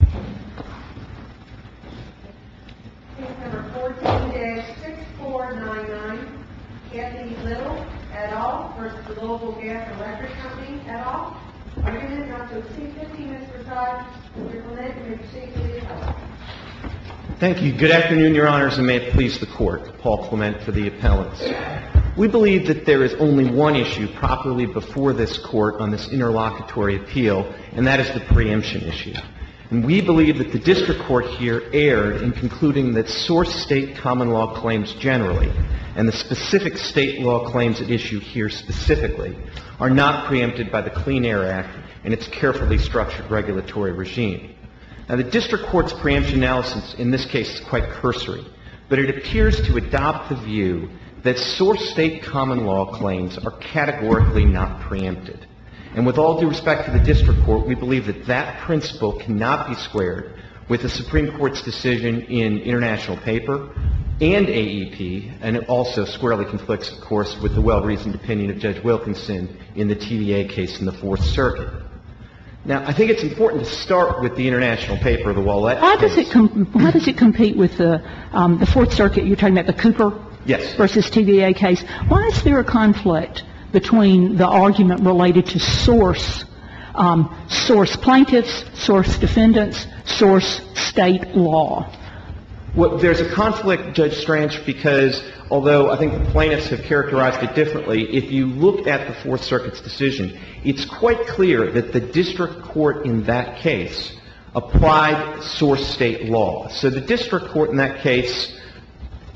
Company, et al. Argument no. C-50, Mr. Todd. Mr. Clement, you may proceed, please. Thank you. Good afternoon, Your Honors, and may it please the Court, Paul Clement for the appellants. We believe that there is only one issue properly before this Court on this case. We believe that the district court here erred in concluding that source state common law claims generally, and the specific state law claims at issue here specifically, are not preempted by the Clean Air Act and its carefully structured regulatory regime. Now, the district court's preemption analysis in this case is quite cursory, but it appears to adopt the view that source state common law claims are categorically not preempted. And with all due respect to the district court, we believe that that principle cannot be squared with the Supreme Court's decision in international paper and AEP, and it also squarely conflicts, of course, with the well-reasoned opinion of Judge Wilkinson in the TVA case in the Fourth Circuit. Now, I think it's important to start with the international paper, the Wallett case. How does it compete with the Fourth Circuit? You're talking about the Cooper v. TVA case. Why is there a conflict between the argument related to source, source plaintiffs, source defendants, source state law? Well, there's a conflict, Judge Strange, because although I think the plaintiffs have characterized it differently, if you look at the Fourth Circuit's decision, it's quite clear that the district court in that case applied source state law. So the district court in that case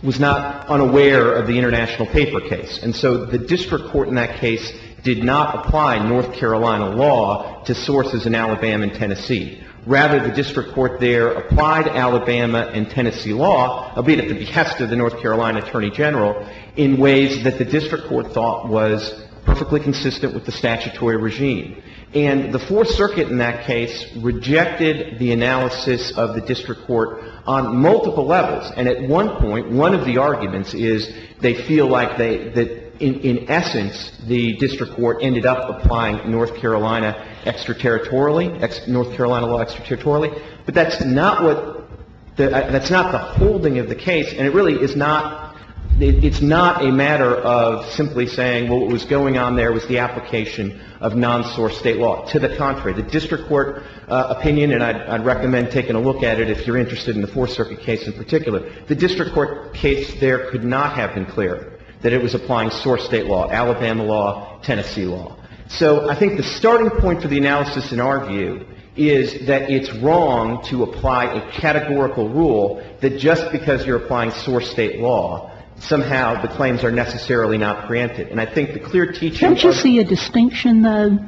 was not unaware of the international paper case. And so the district court in that case did not apply North Carolina law to sources in Alabama and Tennessee. Rather, the district court there applied Alabama and Tennessee law, albeit at the behest of the North Carolina attorney general, in ways that the district court thought was perfectly consistent with the statutory regime. And the Fourth Circuit in that case rejected the analysis of the district court on multiple levels. And at one point, one of the arguments is they feel like they — that in essence, the district court ended up applying North Carolina extra-territorially, North Carolina law extra-territorially. But that's not what — that's not the holding of the case, and it really is not — it's not a matter of simply saying, well, what was going on there was the application of non-source state law. To the contrary, the district court opinion, and I'd recommend taking a look at it if you're interested in the Fourth Circuit case in particular, the district court case there could not have been clearer that it was applying source state law, Alabama law, Tennessee law. So I think the starting point for the analysis, in our view, is that it's wrong to apply a categorical rule that just because you're applying source state law, somehow the claims are necessarily not granted. And I think the clear teaching of — Can't you see a distinction, though,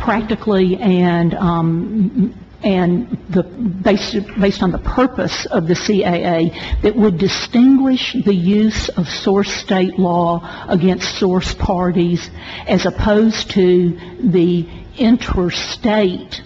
practically, and the — based on the purpose of the CAA, that would distinguish the use of source state law against source parties as opposed to the interstate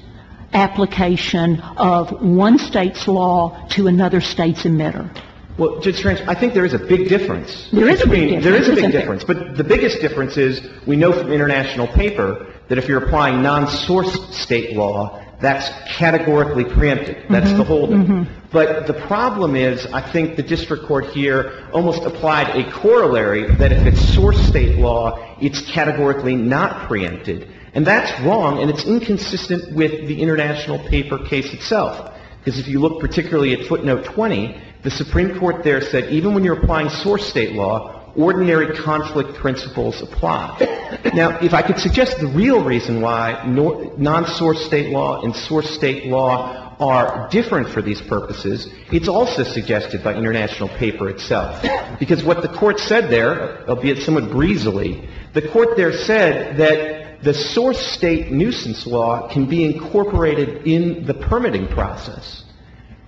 application of one State's law to another State's emitter? Well, Judge Franch, I think there is a big difference. There is a big difference. There is a big difference. But the biggest difference is we know from international paper that if you're applying non-source State law, that's categorically preempted. That's the holding. But the problem is, I think the district court here almost applied a corollary that if it's source State law, it's categorically not preempted. And that's wrong, and it's inconsistent with the international paper case itself, because if you look particularly at footnote 20, the Supreme Court there said even when you're applying source State law, ordinary conflict principles apply. Now, if I could suggest the real reason why non-source State law and source State law are different for these purposes, it's also suggested by international paper itself, because what the Court said there, albeit somewhat breezily, the Court there said that the source State nuisance law can be incorporated in the permitting process.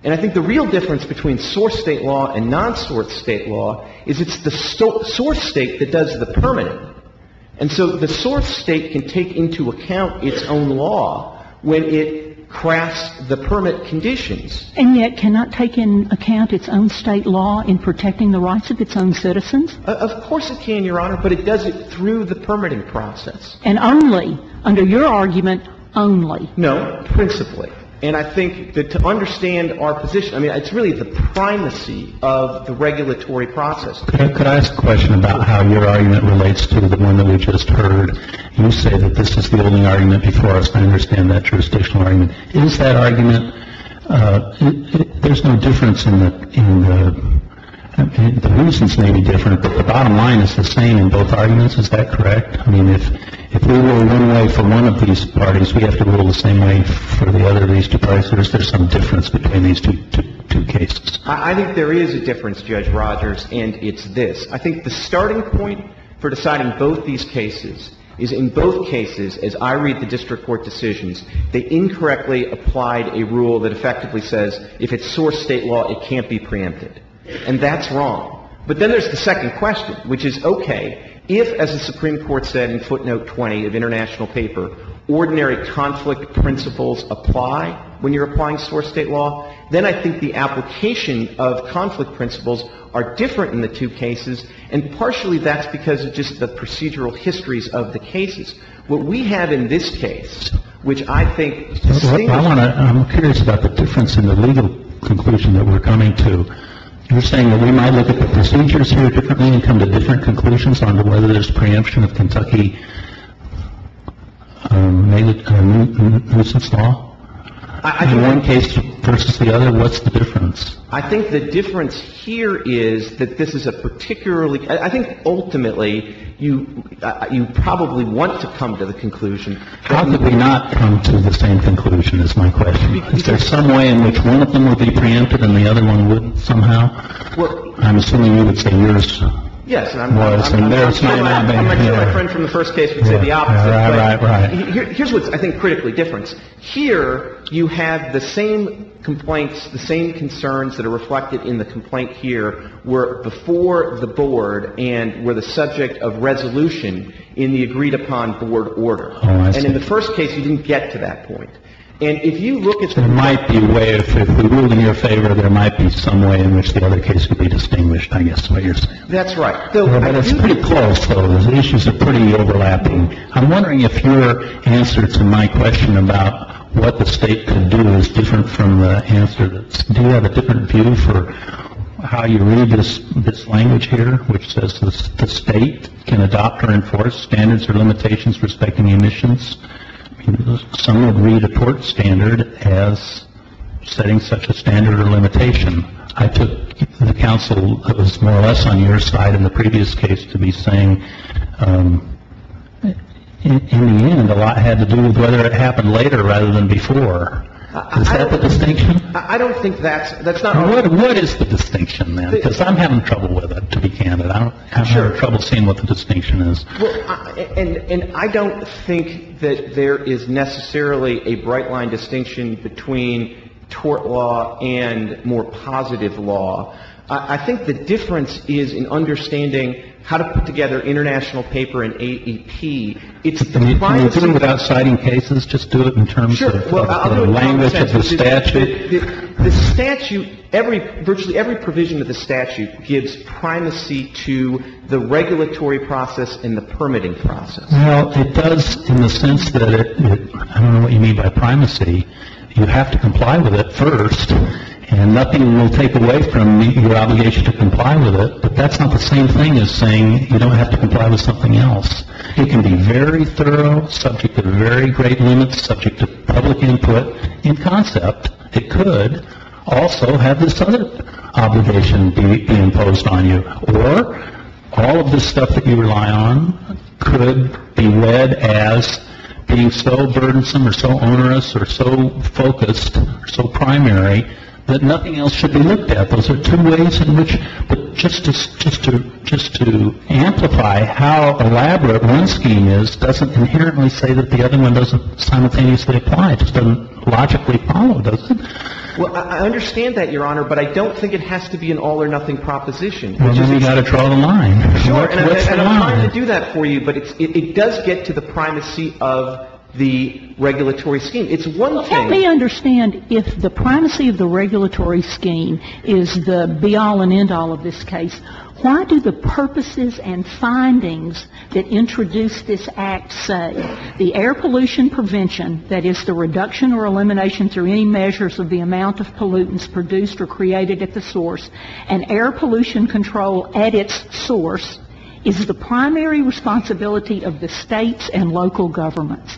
And I think the real difference between source State law and non-source State law is it's the source State that does the permitting. And so the source State can take into account its own law when it crafts the permit conditions. And yet cannot take into account its own State law in protecting the rights of its own citizens? Of course it can, Your Honor, but it does it through the permitting process. And only? Under your argument, only? No, principally. And I think that to understand our position, I mean, it's really the primacy of the regulatory process. Could I ask a question about how your argument relates to the one that we just heard? You say that this is the only argument before us to understand that jurisdictional argument. Is that argument — there's no difference in the — the nuisance may be different, but the bottom line is the same in both arguments. Is that correct? I mean, if — if we rule one way for one of these parties, we have to rule the same way for the other of these two parties? Or is there some difference between these two — two cases? I think there is a difference, Judge Rogers, and it's this. I think the starting point for deciding both these cases is in both cases, as I read the district court decisions, they incorrectly applied a rule that effectively says if it's source State law, it can't be preempted. And that's wrong. But then there's the second question, which is, okay, if, as the Supreme Court said in footnote 20 of international paper, ordinary conflict principles apply when you're applying source State law, then I think the application of conflict principles are different in the two cases, and partially that's because of just the procedural histories of the cases. What we have in this case, which I think — Well, I want to — I'm curious about the difference in the legal conclusion that we're coming to. You're saying that we might look at the procedures here differently and come to different conclusions on whether there's preemption of Kentucky-made nuisance law in one case versus the other? What's the difference? I think the difference here is that this is a particularly — I think ultimately you — you probably want to come to the conclusion. Why would we not come to the same conclusion is my question. Is there some way in which one of them would be preempted and the other one wouldn't somehow? Well — I'm assuming you would say yours was. Yes, and I'm — And there's — My friend from the first case would say the opposite. Right, right, right. Here's what's, I think, critically different. Here you have the same complaints, the same concerns that are reflected in the complaint here were before the Board and were the subject of resolution in the agreed-upon Board order. Oh, I see. And in the first case, you didn't get to that point. And if you look at the — There might be a way, if we ruled in your favor, there might be some way in which the other case would be distinguished, I guess is what you're saying. That's right. It's pretty close, though. The issues are pretty overlapping. I'm wondering if your answer to my question about what the State could do is different from the answer that's — do you have a different view for how you read this language here, which says the State can adopt or enforce standards or limitations respecting emissions? Some would read a tort standard as setting such a standard or limitation. I took the counsel that was more or less on your side in the previous case to be saying, in the end, a lot had to do with whether it happened later rather than before. Is that the distinction? What is the distinction, then? Because I'm having trouble with it, to be candid. I'm having trouble seeing what the distinction is. And I don't think that there is necessarily a bright-line distinction between tort law and more positive law. I think the difference is in understanding how to put together international paper and AEP. Can you do it without citing cases? Just do it in terms of the language of the statute? The statute — virtually every provision of the statute gives primacy to the regulatory process and the permitting process. Well, it does in the sense that — I don't know what you mean by primacy. You have to comply with it first, and nothing will take away from your obligation to comply with it, but that's not the same thing as saying you don't have to comply with something else. It can be very thorough, subject to very great limits, subject to public input. In concept, it could also have this other obligation be imposed on you. Or all of this stuff that you rely on could be read as being so burdensome or so onerous or so focused or so primary that nothing else should be looked at. Those are two ways in which — but just to amplify how elaborate one scheme is doesn't inherently say that the other one doesn't simultaneously apply. It just doesn't logically follow, does it? Well, I understand that, Your Honor, but I don't think it has to be an all-or-nothing proposition. Well, then you've got to draw the line. Sure. And I'm trying to do that for you, but it does get to the primacy of the regulatory scheme. It's one thing — Let me understand if the primacy of the regulatory scheme is the be-all and end-all of this case. Why do the purposes and findings that introduce this Act say the air pollution prevention, that is, the reduction or elimination through any measures of the amount of pollutants produced or created at the source, and air pollution control at its source is the primary responsibility of the States and local governments?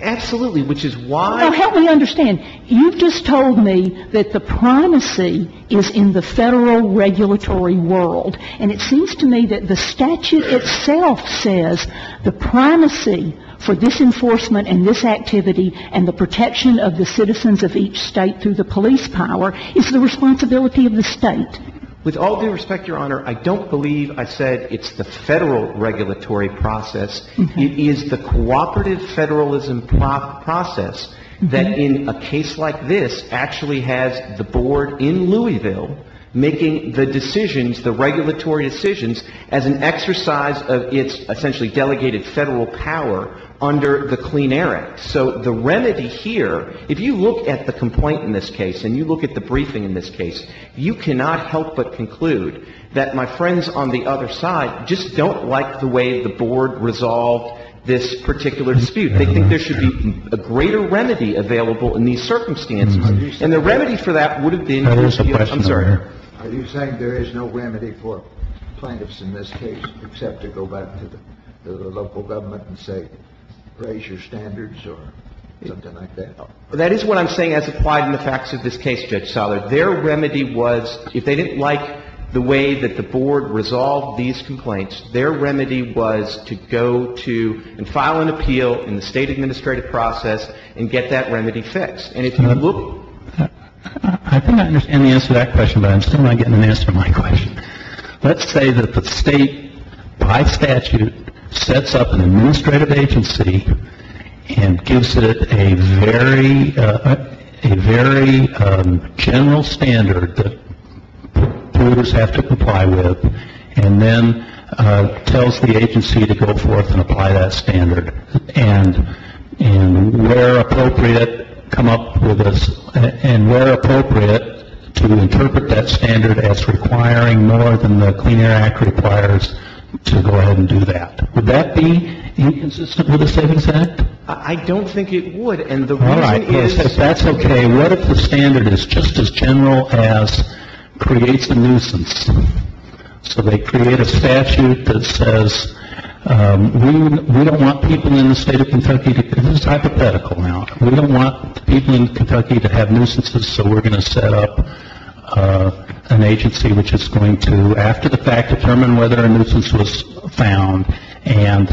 Absolutely. Which is why — Well, help me understand. You've just told me that the primacy is in the Federal regulatory world, and it seems to me that the statute itself says the primacy for this enforcement and this activity and the protection of the citizens of each State through the police power is the responsibility of the State. With all due respect, Your Honor, I don't believe I said it's the Federal regulatory process. It is the cooperative Federalism process that in a case like this actually has the Board in Louisville making the decisions, the regulatory decisions, as an exercise of its essentially delegated Federal power under the Clean Air Act. So the remedy here, if you look at the complaint in this case and you look at the briefing in this case, you cannot help but conclude that my friends on the other side just don't like the way the Board resolved this particular dispute. They think there should be a greater remedy available in these circumstances. And the remedy for that would have been Louisville. I'm sorry. Are you saying there is no remedy for plaintiffs in this case except to go back to the local government and say raise your standards or something like that? That is what I'm saying as applied in the facts of this case, Judge Sala. Their remedy was, if they didn't like the way that the Board resolved these complaints, their remedy was to go to and file an appeal in the State administrative process and get that remedy fixed. And if you look at it. I think I understand the answer to that question, but I'm still not getting an answer to my question. Let's say that the State by statute sets up an administrative agency and gives it a very general standard that providers have to comply with, and then tells the agency to go forth and apply that standard. And where appropriate, come up with a, and where appropriate, to interpret that standard as requiring more than the Clean Air Act requires to go ahead and do that. Would that be inconsistent with the Savings Act? I don't think it would. And the reason is. All right. That's okay. What if the standard is just as general as creates a nuisance? So they create a statute that says we don't want people in the State of Kentucky, this is hypothetical now, we don't want people in Kentucky to have nuisances, so we're going to set up an agency which is going to, after the fact, determine whether a nuisance was found and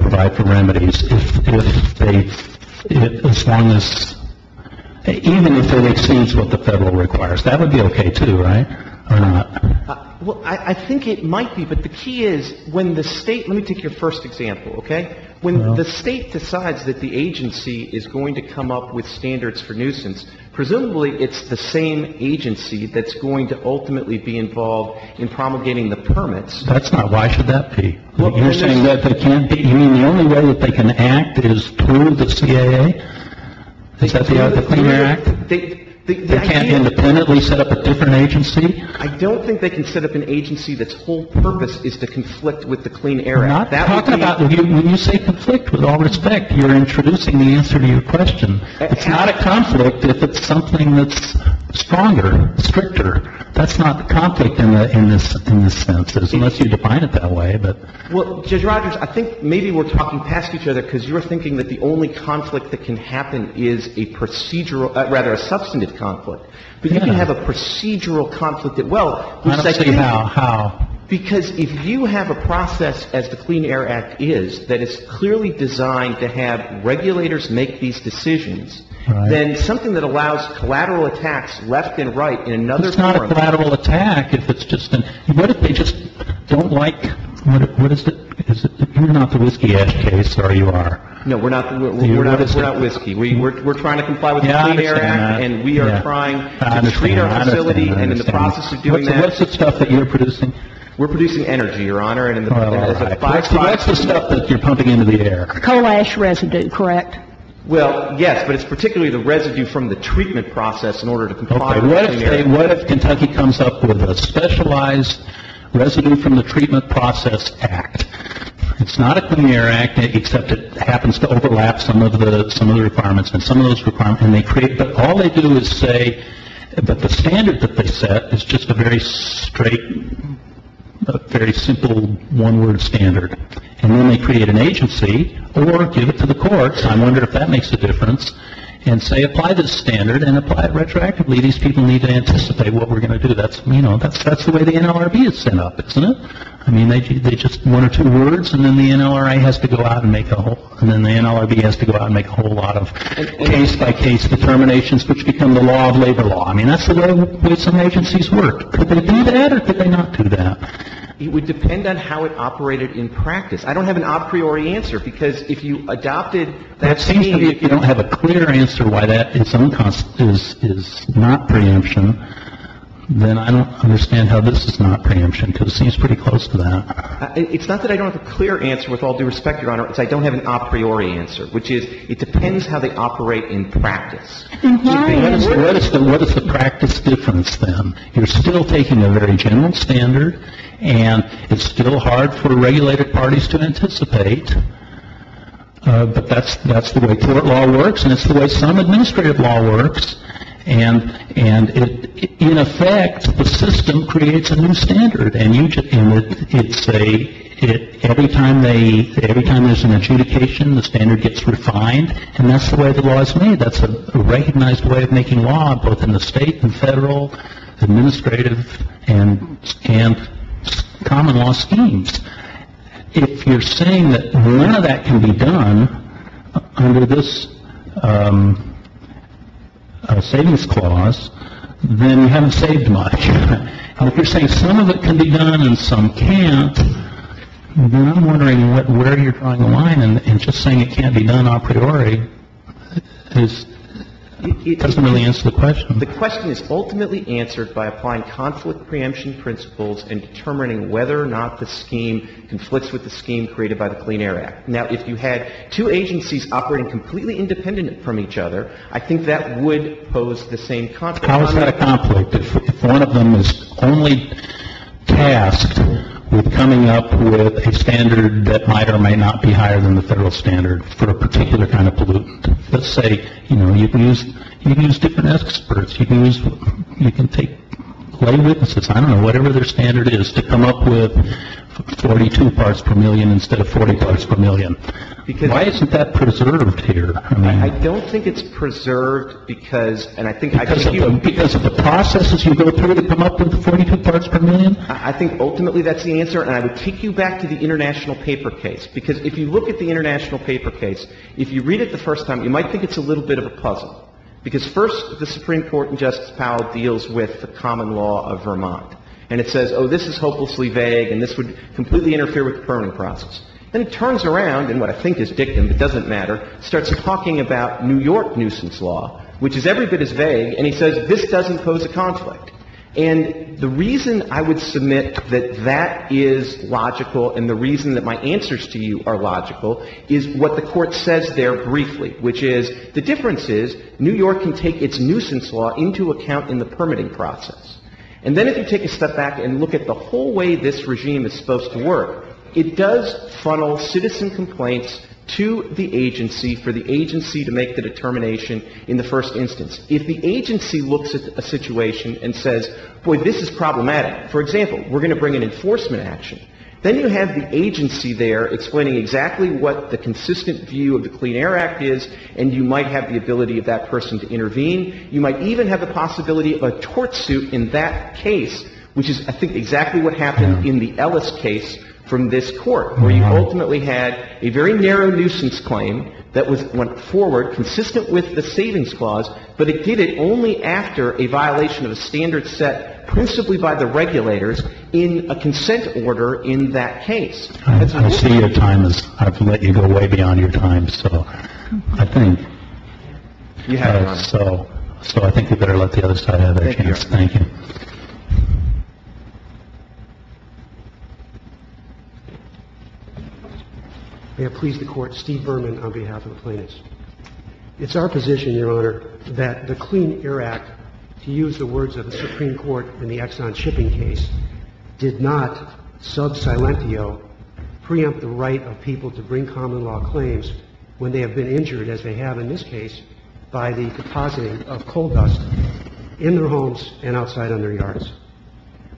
provide for remedies if they, as long as, even if it exceeds what the Federal requires. That would be okay, too, right? Or not? Well, I think it might be, but the key is when the State, let me take your first example, okay? When the State decides that the agency is going to come up with standards for nuisance, presumably it's the same agency that's going to ultimately be involved in promulgating the permits. That's not right. Why should that be? You're saying that they can't be. You mean the only way that they can act is through the CAA? Is that the Clean Air Act? They can't independently set up a different agency? I don't think they can set up an agency that's whole purpose is to conflict with the Clean Air Act. Not talking about, when you say conflict, with all respect, you're introducing the answer to your question. It's not a conflict if it's something that's stronger, stricter. That's not a conflict in this sense, unless you define it that way. Well, Judge Rogers, I think maybe we're talking past each other because you're thinking that the only conflict that can happen is a procedural, rather a substantive conflict. But you can have a procedural conflict that, well, who's second? I don't see how. How? Because if you have a process, as the Clean Air Act is, that is clearly designed to have regulators make these decisions, then something that allows collateral attacks left and right in another forum. It's not a collateral attack if it's just a – what if they just don't like – what is it? You're not the Whiskey Edge case, are you, Your Honor? No, we're not. We're not Whiskey. We're trying to comply with the Clean Air Act, and we are trying to treat our facility and in the process of doing that – What's the stuff that you're producing? We're producing energy, Your Honor. All right. What's the stuff that you're pumping into the air? A coal ash residue, correct? Well, yes, but it's particularly the residue from the treatment process in order to comply with the Clean Air Act. Okay. What if Kentucky comes up with a specialized residue from the treatment process act? It's not a Clean Air Act, except it happens to overlap some of the – some of the requirements and some of those requirements, and they create – but all they do is say that the standard that they set is just a very straight, very simple one-word standard. And then they create an agency or give it to the courts. I'm wondering if that makes a difference, and say apply this standard and apply it retroactively. These people need to anticipate what we're going to do. That's – you know, that's the way the NLRB is set up, isn't it? I mean, they just – one or two words, and then the NLRA has to go out and make a whole – and then the NLRB has to go out and make a whole lot of case-by-case determinations, which become the law of labor law. I mean, that's the way some agencies work. Could they do that, or could they not do that? It would depend on how it operated in practice. I don't have an a priori answer, because if you adopted that same – It seems to me if you don't have a clear answer why that – its own concept is not preemption, then I don't understand how this is not preemption, because it seems pretty close to that. It's not that I don't have a clear answer, with all due respect, Your Honor, it's I don't have an a priori answer, which is it depends how they operate in practice. What is the – what is the practice difference, then? You're still taking a very general standard, and it's still hard for regulated parties to anticipate, but that's the way court law works, and it's the way some administrative law works, and it – in effect, the system creates a new standard, and you – and it's a – every time they – every time there's an adjudication, the standard gets refined, and that's the way the law is made. That's a recognized way of making law, both in the state and federal, administrative, and common law schemes. If you're saying that none of that can be done under this savings clause, then you haven't saved much. And if you're saying some of it can be done and some can't, then I'm wondering what – where you're drawing the line, and just saying it can't be done a priori is – it doesn't really answer the question. The question is ultimately answered by applying conflict preemption principles in determining whether or not the scheme conflicts with the scheme created by the Clean Air Act. Now, if you had two agencies operating completely independent from each other, I think that would pose the same conflict. How is that a conflict if one of them is only tasked with coming up with a standard that might or might not be higher than the federal standard for a particular kind of pollutant? Let's say, you know, you can use – you can use different experts. You can use – you can take lay witnesses, I don't know, whatever their standard is, to come up with 42 parts per million instead of 40 parts per million. Why isn't that preserved here? I don't think it's preserved because – and I think I can hear you. Because of the processes you go through to come up with 42 parts per million? I think ultimately that's the answer. And I would take you back to the international paper case, because if you look at the international paper case, if you read it the first time, you might think it's a little bit of a puzzle, because first the Supreme Court in Justice Powell deals with the common law of Vermont. And it says, oh, this is hopelessly vague and this would completely interfere with the permanent process. Then it turns around, and what I think is dictum, but doesn't matter, starts talking about New York nuisance law, which is every bit as vague, and he says this doesn't pose a conflict. And the reason I would submit that that is logical and the reason that my answers to you are logical is what the Court says there briefly, which is the difference is New York can take its nuisance law into account in the permitting process. And then if you take a step back and look at the whole way this regime is supposed to work, it does funnel citizen complaints to the agency for the agency to make the determination in the first instance. If the agency looks at a situation and says, boy, this is problematic. For example, we're going to bring an enforcement action. Then you have the agency there explaining exactly what the consistent view of the Clean Air Act is, and you might have the ability of that person to intervene. You might even have the possibility of a tort suit in that case, which is, I think, exactly what happened in the Ellis case from this Court, where you ultimately had a very narrow nuisance claim that went forward, consistent with the Savings Clause, but it did it only after a violation of a standard set principally by the regulators in a consent order in that case. That's an issue. I see your time is up. I've let you go way beyond your time, so I think. You have, Your Honor. Thank you. Thank you. May it please the Court. Steve Berman on behalf of the plaintiffs. It's our position, Your Honor, that the Clean Air Act, to use the words of the Supreme Court in the Exxon shipping case, did not sub silentio preempt the right of people to bring common law claims when they have been injured, as they have in this case, by the depositing of coal dust in their homes and outside on their yards.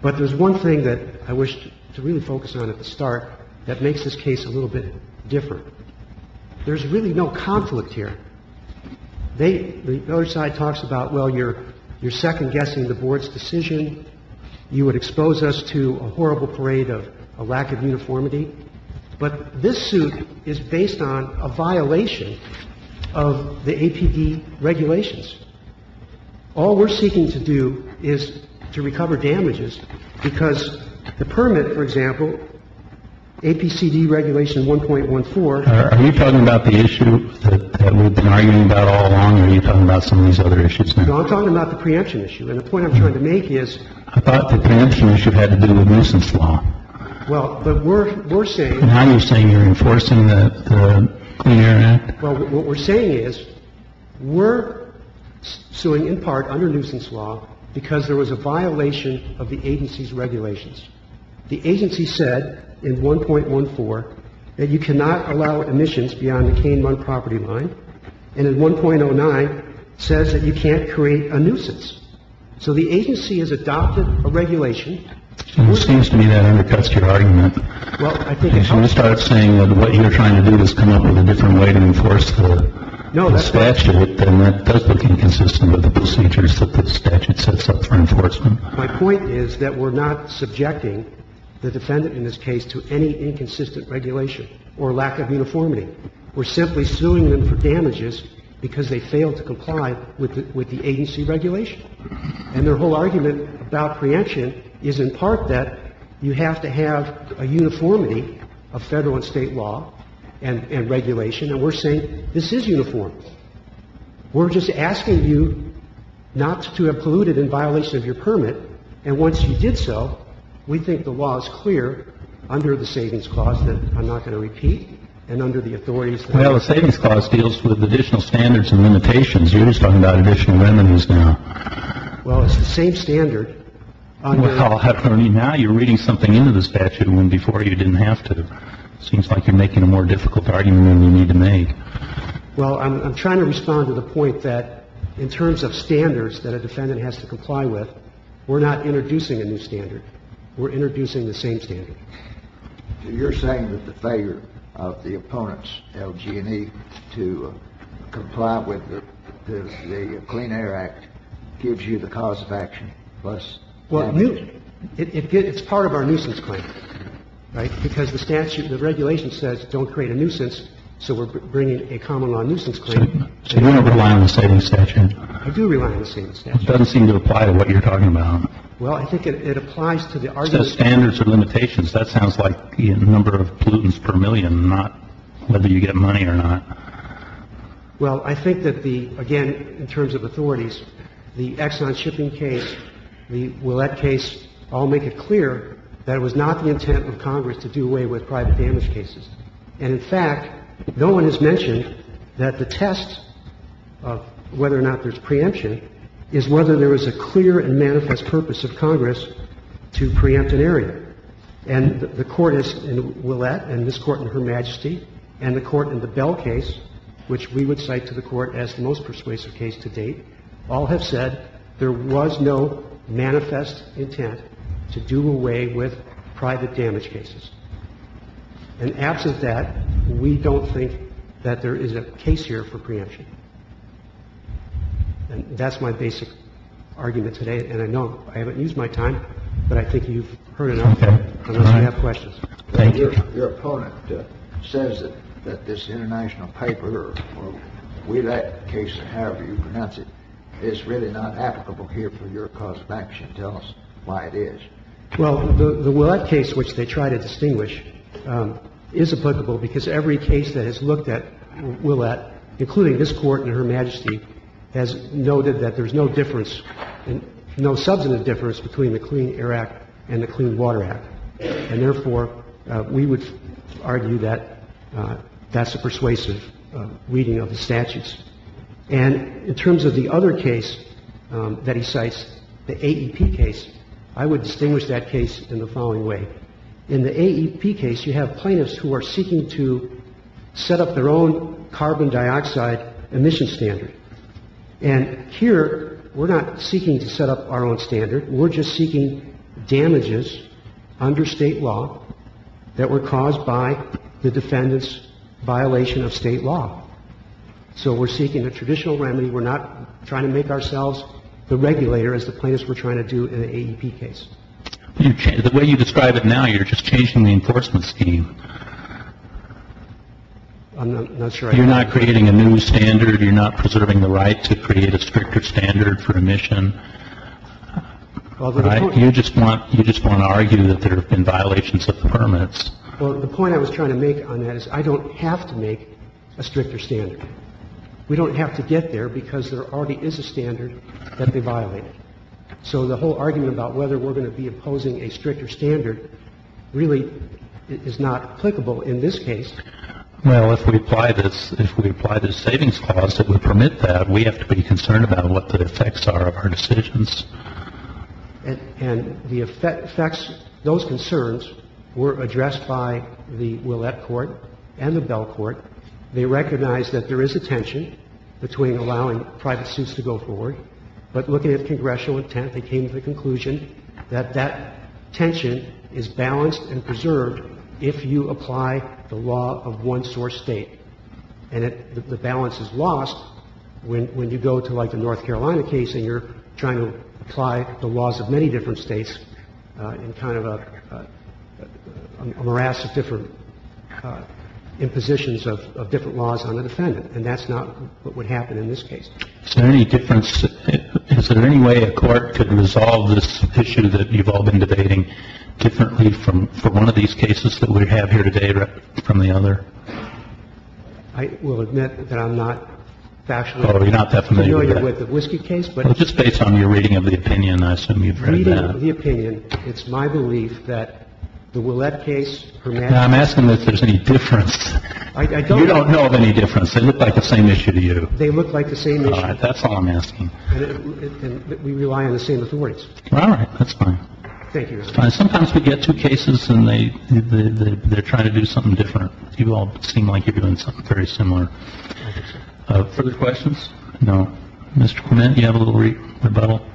But there's one thing that I wish to really focus on at the start that makes this case a little bit different. There's really no conflict here. They – the other side talks about, well, you're second-guessing the board's decision. You would expose us to a horrible parade of a lack of uniformity. But this suit is based on a violation of the APD regulations. All we're seeking to do is to recover damages, because the permit, for example, APCD regulation 1.14 – Are you talking about the issue that we've been arguing about all along, or are you talking about some of these other issues now? No, I'm talking about the preemption issue. And the point I'm trying to make is – I thought the preemption issue had to do with nuisance law. Well, but we're – we're saying – And how are you saying you're enforcing the Clean Air Act? Well, what we're saying is we're suing in part under nuisance law because there was a violation of the agency's regulations. The agency said in 1.14 that you cannot allow emissions beyond the Kane-Munn property line, and in 1.09 says that you can't create a nuisance. So the agency has adopted a regulation. It seems to me that undercuts your argument. Well, I think it helps. If you start saying that what you're trying to do is come up with a different way to enforce the statute, then that does look inconsistent with the procedures that the statute sets up for enforcement. My point is that we're not subjecting the defendant in this case to any inconsistent regulation or lack of uniformity. We're simply suing them for damages because they failed to comply with the agency regulation. And their whole argument about preemption is in part that you have to have a uniformity of Federal and State law and regulation, and we're saying this is uniform. We're just asking you not to have polluted in violation of your permit, and once you did so, we think the law is clear under the savings clause that I'm not going to repeat and under the authorities. Well, the savings clause deals with additional standards and limitations. You're just talking about additional remedies now. Well, it's the same standard. Now you're reading something into the statute when before you didn't have to. It seems like you're making a more difficult argument than you need to make. Well, I'm trying to respond to the point that in terms of standards that a defendant has to comply with, we're not introducing a new standard. We're introducing the same standard. You're saying that the failure of the opponents, LG&E, to comply with the Clean Air Act gives you the cause of action plus? Well, it's part of our nuisance claim, right, because the statute, the regulation says don't create a nuisance, so we're bringing a common law nuisance claim. So you're not relying on the savings statute? I do rely on the savings statute. It doesn't seem to apply to what you're talking about. Well, I think it applies to the argument. Well, it says standards or limitations. That sounds like the number of pollutants per million, not whether you get money or not. Well, I think that the, again, in terms of authorities, the Exxon shipping case, the Ouellette case all make it clear that it was not the intent of Congress to do away with private damage cases. And, in fact, no one has mentioned that the test of whether or not there's preemption is whether there is a clear and manifest purpose of Congress to preempt an area. And the Court in Ouellette and this Court in Her Majesty and the Court in the Bell case, which we would cite to the Court as the most persuasive case to date, all have said there was no manifest intent to do away with private damage cases. And absent that, we don't think that there is a case here for preemption. And that's my basic argument today. And I know I haven't used my time, but I think you've heard enough, unless I have questions. Thank you. Your opponent says that this international paper or Ouellette case, however you pronounce it, is really not applicable here for your cause of action. Tell us why it is. Well, the Ouellette case, which they try to distinguish, is applicable because every case that has looked at Ouellette, including this Court in Her Majesty, has noted that there's no difference, no substantive difference between the Clean Air Act and the Clean Water Act. And, therefore, we would argue that that's a persuasive reading of the statutes. And in terms of the other case that he cites, the AEP case, I would distinguish that case in the following way. In the AEP case, you have plaintiffs who are seeking to set up their own carbon dioxide emission standard. And here, we're not seeking to set up our own standard. We're just seeking damages under State law that were caused by the defendant's violation of State law. So we're seeking a traditional remedy. We're not trying to make ourselves the regulator, as the plaintiffs were trying to do in the AEP case. The way you describe it now, you're just changing the enforcement scheme. I'm not sure I agree. You're not creating a new standard. You're not preserving the right to create a stricter standard for emission. You just want to argue that there have been violations of the permits. Well, the point I was trying to make on that is I don't have to make a stricter standard. We don't have to get there because there already is a standard that they violated. So the whole argument about whether we're going to be imposing a stricter standard really is not applicable in this case. Well, if we apply this, if we apply this savings clause that would permit that, we have to be concerned about what the effects are of our decisions. And the effects, those concerns were addressed by the Ouellette Court and the Bell Court. They recognized that there is a tension between allowing private suits to go forward, but looking at congressional intent, they came to the conclusion that that tension is balanced and preserved if you apply the law of one source State. And the balance is lost when you go to, like, the North Carolina case and you're trying to apply the laws of many different States in kind of a morass of different impositions of different laws on a defendant. And that's not what would happen in this case. Is there any difference? Is there any way a court could resolve this issue that you've all been debating differently from one of these cases that we have here today or from the other? I will admit that I'm not fashionably familiar with the Whiskey case, but it's just based on your reading of the opinion. I assume you've read that. Reading of the opinion, it's my belief that the Ouellette case, Hermann's case. I'm asking if there's any difference. I don't know. You don't know of any difference. They look like the same issue to you. All right. That's all I'm asking. And we rely on the same authorities. All right. That's fine. Thank you, Your Honor. Sometimes we get two cases and they're trying to do something different. You all seem like you're doing something very similar. Further questions? No. Mr. Clement, do you have a little rebuttal?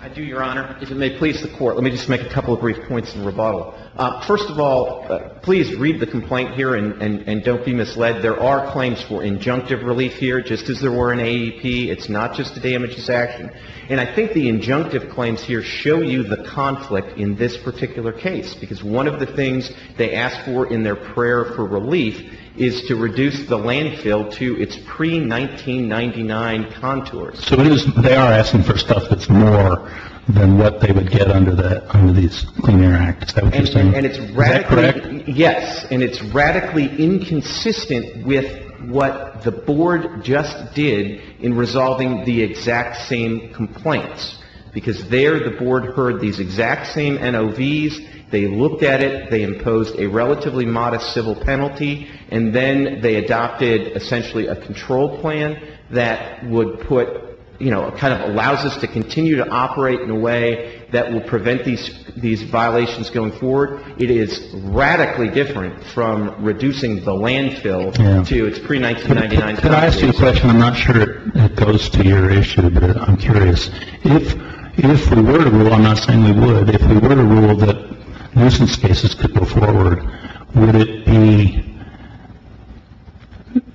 I do, Your Honor. If it may please the Court, let me just make a couple of brief points in rebuttal. First of all, please read the complaint here and don't be misled. There are claims for injunctive relief here, just as there were in AEP. It's not just a damages action. And I think the injunctive claims here show you the conflict in this particular case, because one of the things they asked for in their prayer for relief is to reduce the landfill to its pre-1999 contours. So they are asking for stuff that's more than what they would get under that, under these linear acts. Is that what you're saying? Is that correct? Yes. And it's radically inconsistent with what the Board just did in resolving the exact same complaints, because there the Board heard these exact same NOVs, they looked at it, they imposed a relatively modest civil penalty, and then they adopted essentially a control plan that would put, you know, kind of allows us to continue to operate in a way that will prevent these violations going forward. It is radically different from reducing the landfill to its pre-1999 contours. Could I ask you a question? I'm not sure it goes to your issue, but I'm curious. If we were to rule, I'm not saying we would, if we were to rule that nuisance cases could go forward, would it be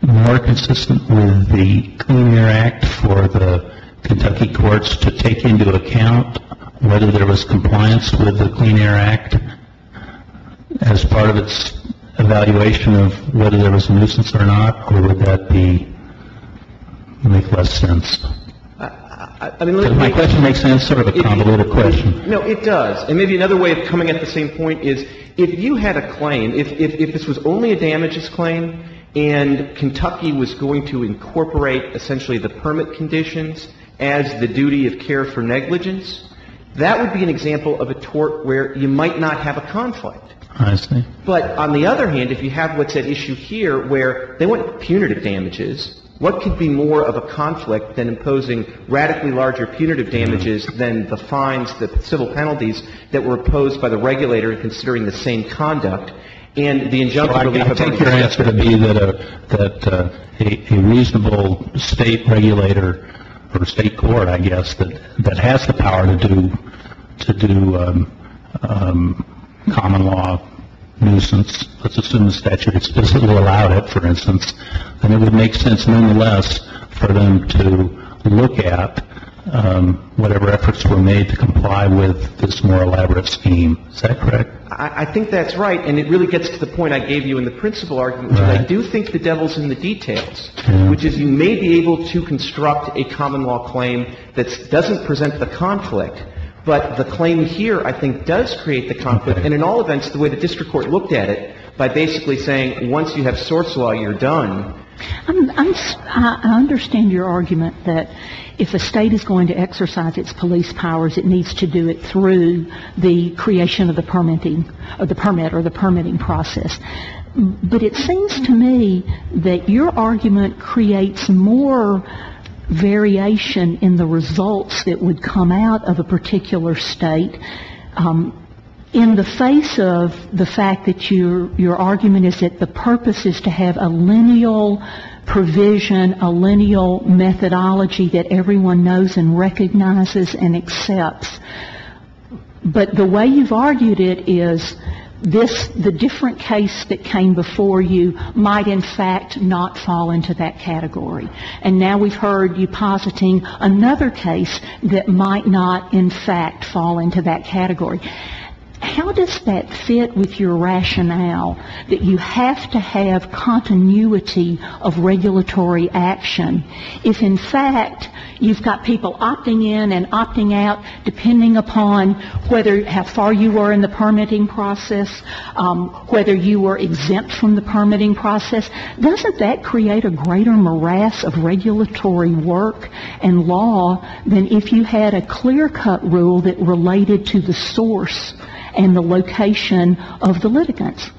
more consistent with the Clean Air Act for the Kentucky courts to take into account whether there was compliance with the Clean Air Act as part of its evaluation of whether there was a nuisance or not, or would that be, make less sense? Does my question make sense? It's sort of a convoluted question. No, it does. And maybe another way of coming at the same point is if you had a claim, if this was only a damages claim and Kentucky was going to incorporate essentially the permit conditions as the duty of care for negligence, that would be an example of a tort where you might not have a conflict. I see. But on the other hand, if you have what's at issue here where they want punitive damages, what could be more of a conflict than imposing radically larger punitive damages than the fines, the civil penalties that were imposed by the regulator considering the same conduct, and the injunctive relief of injunctive damages? I take your answer to be that a reasonable State regulator or State court, I guess, that has the power to do common law nuisance, let's assume the statute explicitly allowed it, for instance, then it would make sense, nonetheless, for them to look at whatever efforts were made to comply with this more elaborate scheme. Is that correct? I think that's right. And it really gets to the point I gave you in the principal argument. Right. But I do think the devil's in the details, which is you may be able to construct a common law claim that doesn't present the conflict, but the claim here, I think, does create the conflict. And in all events, the way the district court looked at it, by basically saying once you have source law, you're done. I understand your argument that if a State is going to exercise its police powers, it needs to do it through the creation of the permitting or the permit or the permitting process. But it seems to me that your argument creates more variation in the results that would come out of a particular State in the face of the fact that your argument is that the purpose is to have a lineal provision, a lineal methodology that everyone knows and recognizes and accepts. But the way you've argued it is this, the different case that came before you might in fact not fall into that category. And now we've heard you positing another case that might not in fact fall into that category. How does that fit with your rationale that you have to have continuity of regulatory action? If in fact you've got people opting in and opting out depending upon whether how far you were in the permitting process, whether you were exempt from the permitting process, doesn't that create a greater morass of regulatory work and law than if you had a clear-cut rule that related to the source and the location of the litigants?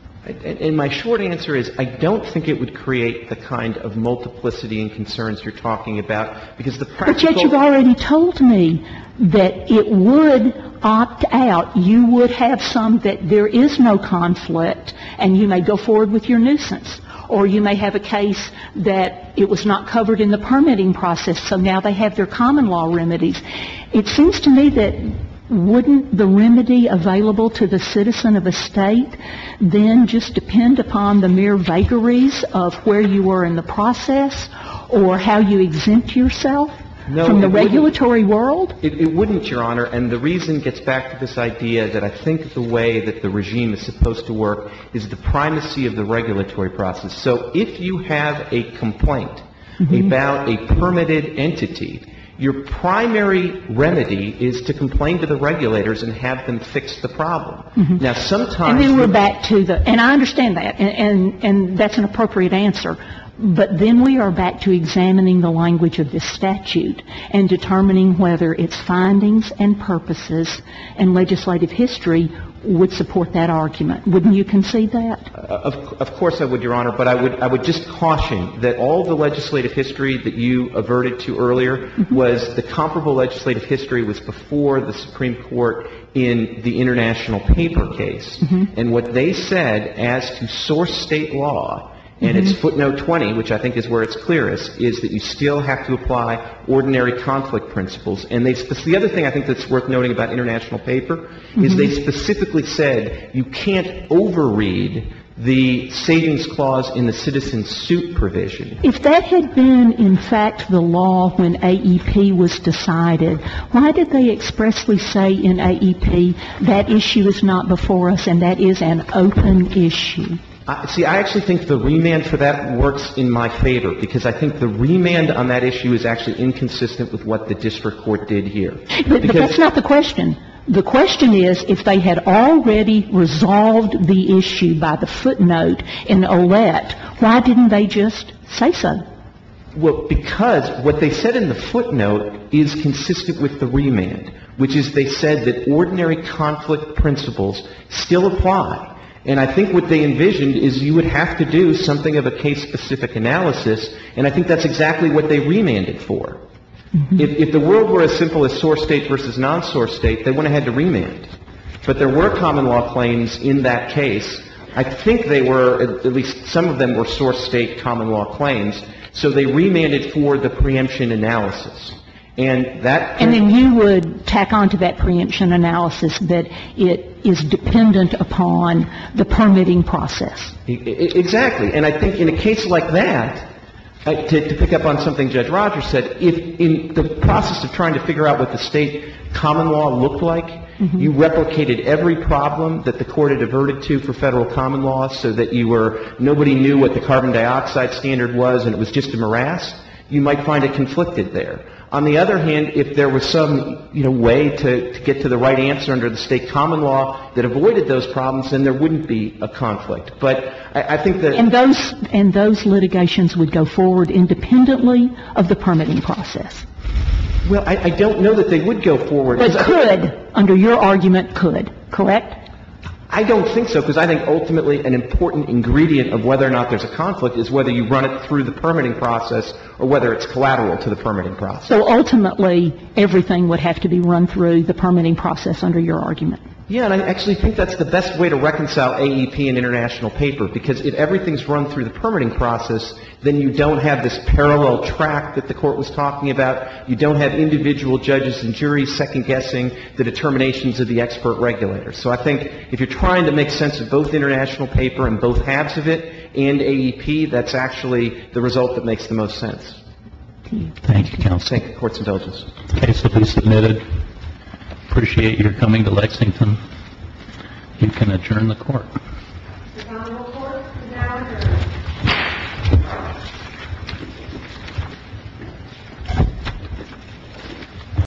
And my short answer is I don't think it would create the kind of multiplicity and concerns you're talking about, because the practical ---- But yet you've already told me that it would opt out. You would have some that there is no conflict, and you may go forward with your nuisance. Or you may have a case that it was not covered in the permitting process, so now they have their common law remedies. It seems to me that wouldn't the remedy available to the citizen of a State then just depend upon the mere vagaries of where you were in the process or how you exempt yourself from the regulatory world? It wouldn't, Your Honor. And the reason gets back to this idea that I think the way that the regime is supposed to work is the primacy of the regulatory process. So if you have a complaint about a permitted entity, your primary remedy is to complain to the regulators and have them fix the problem. Now, sometimes ---- And then we're back to the ---- and I understand that, and that's an appropriate answer. But then we are back to examining the language of this statute and determining whether its findings and purposes and legislative history would support that argument. Wouldn't you concede that? Of course I would, Your Honor. But I would just caution that all the legislative history that you averted to earlier was the comparable legislative history was before the Supreme Court in the international paper case. And what they said as to source State law, and it's footnote 20, which I think is where it's clearest, is that you still have to apply ordinary conflict principles. And the other thing I think that's worth noting about international paper is they specifically said you can't overread the savings clause in the citizen suit provision. If that had been, in fact, the law when AEP was decided, why did they expressly say in AEP that issue is not before us and that is an open issue? See, I actually think the remand for that works in my favor, because I think the remand on that issue is actually inconsistent with what the district court did here. But that's not the question. The question is if they had already resolved the issue by the footnote in Ouellette, why didn't they just say so? Well, because what they said in the footnote is consistent with the remand, which is they said that ordinary conflict principles still apply. And I think what they envisioned is you would have to do something of a case-specific analysis, and I think that's exactly what they remanded for. If the world were as simple as source State versus non-source State, they went ahead to remand. But there were common law claims in that case. I think they were, at least some of them were source State common law claims, so they remanded for the preemption analysis. And that can be ---- And then you would tack on to that preemption analysis that it is dependent upon the permitting process. Exactly. And I think in a case like that, to pick up on something Judge Rogers said, if in the process of trying to figure out what the State common law looked like, you replicated every problem that the Court had averted to for Federal common law so that you were ---- nobody knew what the carbon dioxide standard was and it was just a morass, you might find it conflicted there. On the other hand, if there was some, you know, way to get to the right answer under the State common law that avoided those problems, then there wouldn't be a conflict. But I think that ---- And those ---- and those litigations would go forward independently of the permitting process. Well, I don't know that they would go forward. But could, under your argument, could. Correct? I don't think so, because I think ultimately an important ingredient of whether or not there's a conflict is whether you run it through the permitting process or whether it's collateral to the permitting process. So ultimately, everything would have to be run through the permitting process under your argument. Yeah. And I actually think that's the best way to reconcile AEP and international paper, because if everything's run through the permitting process, then you don't have this parallel track that the Court was talking about. You don't have individual judges and juries second-guessing the determinations of the expert regulators. So I think if you're trying to make sense of both international paper and both halves of it and AEP, that's actually the result that makes the most sense. Thank you, counsel. Thank you, courts and judges. The case has been submitted. I appreciate your coming to Lexington. You can adjourn the Court. The Honorable Court is now adjourned.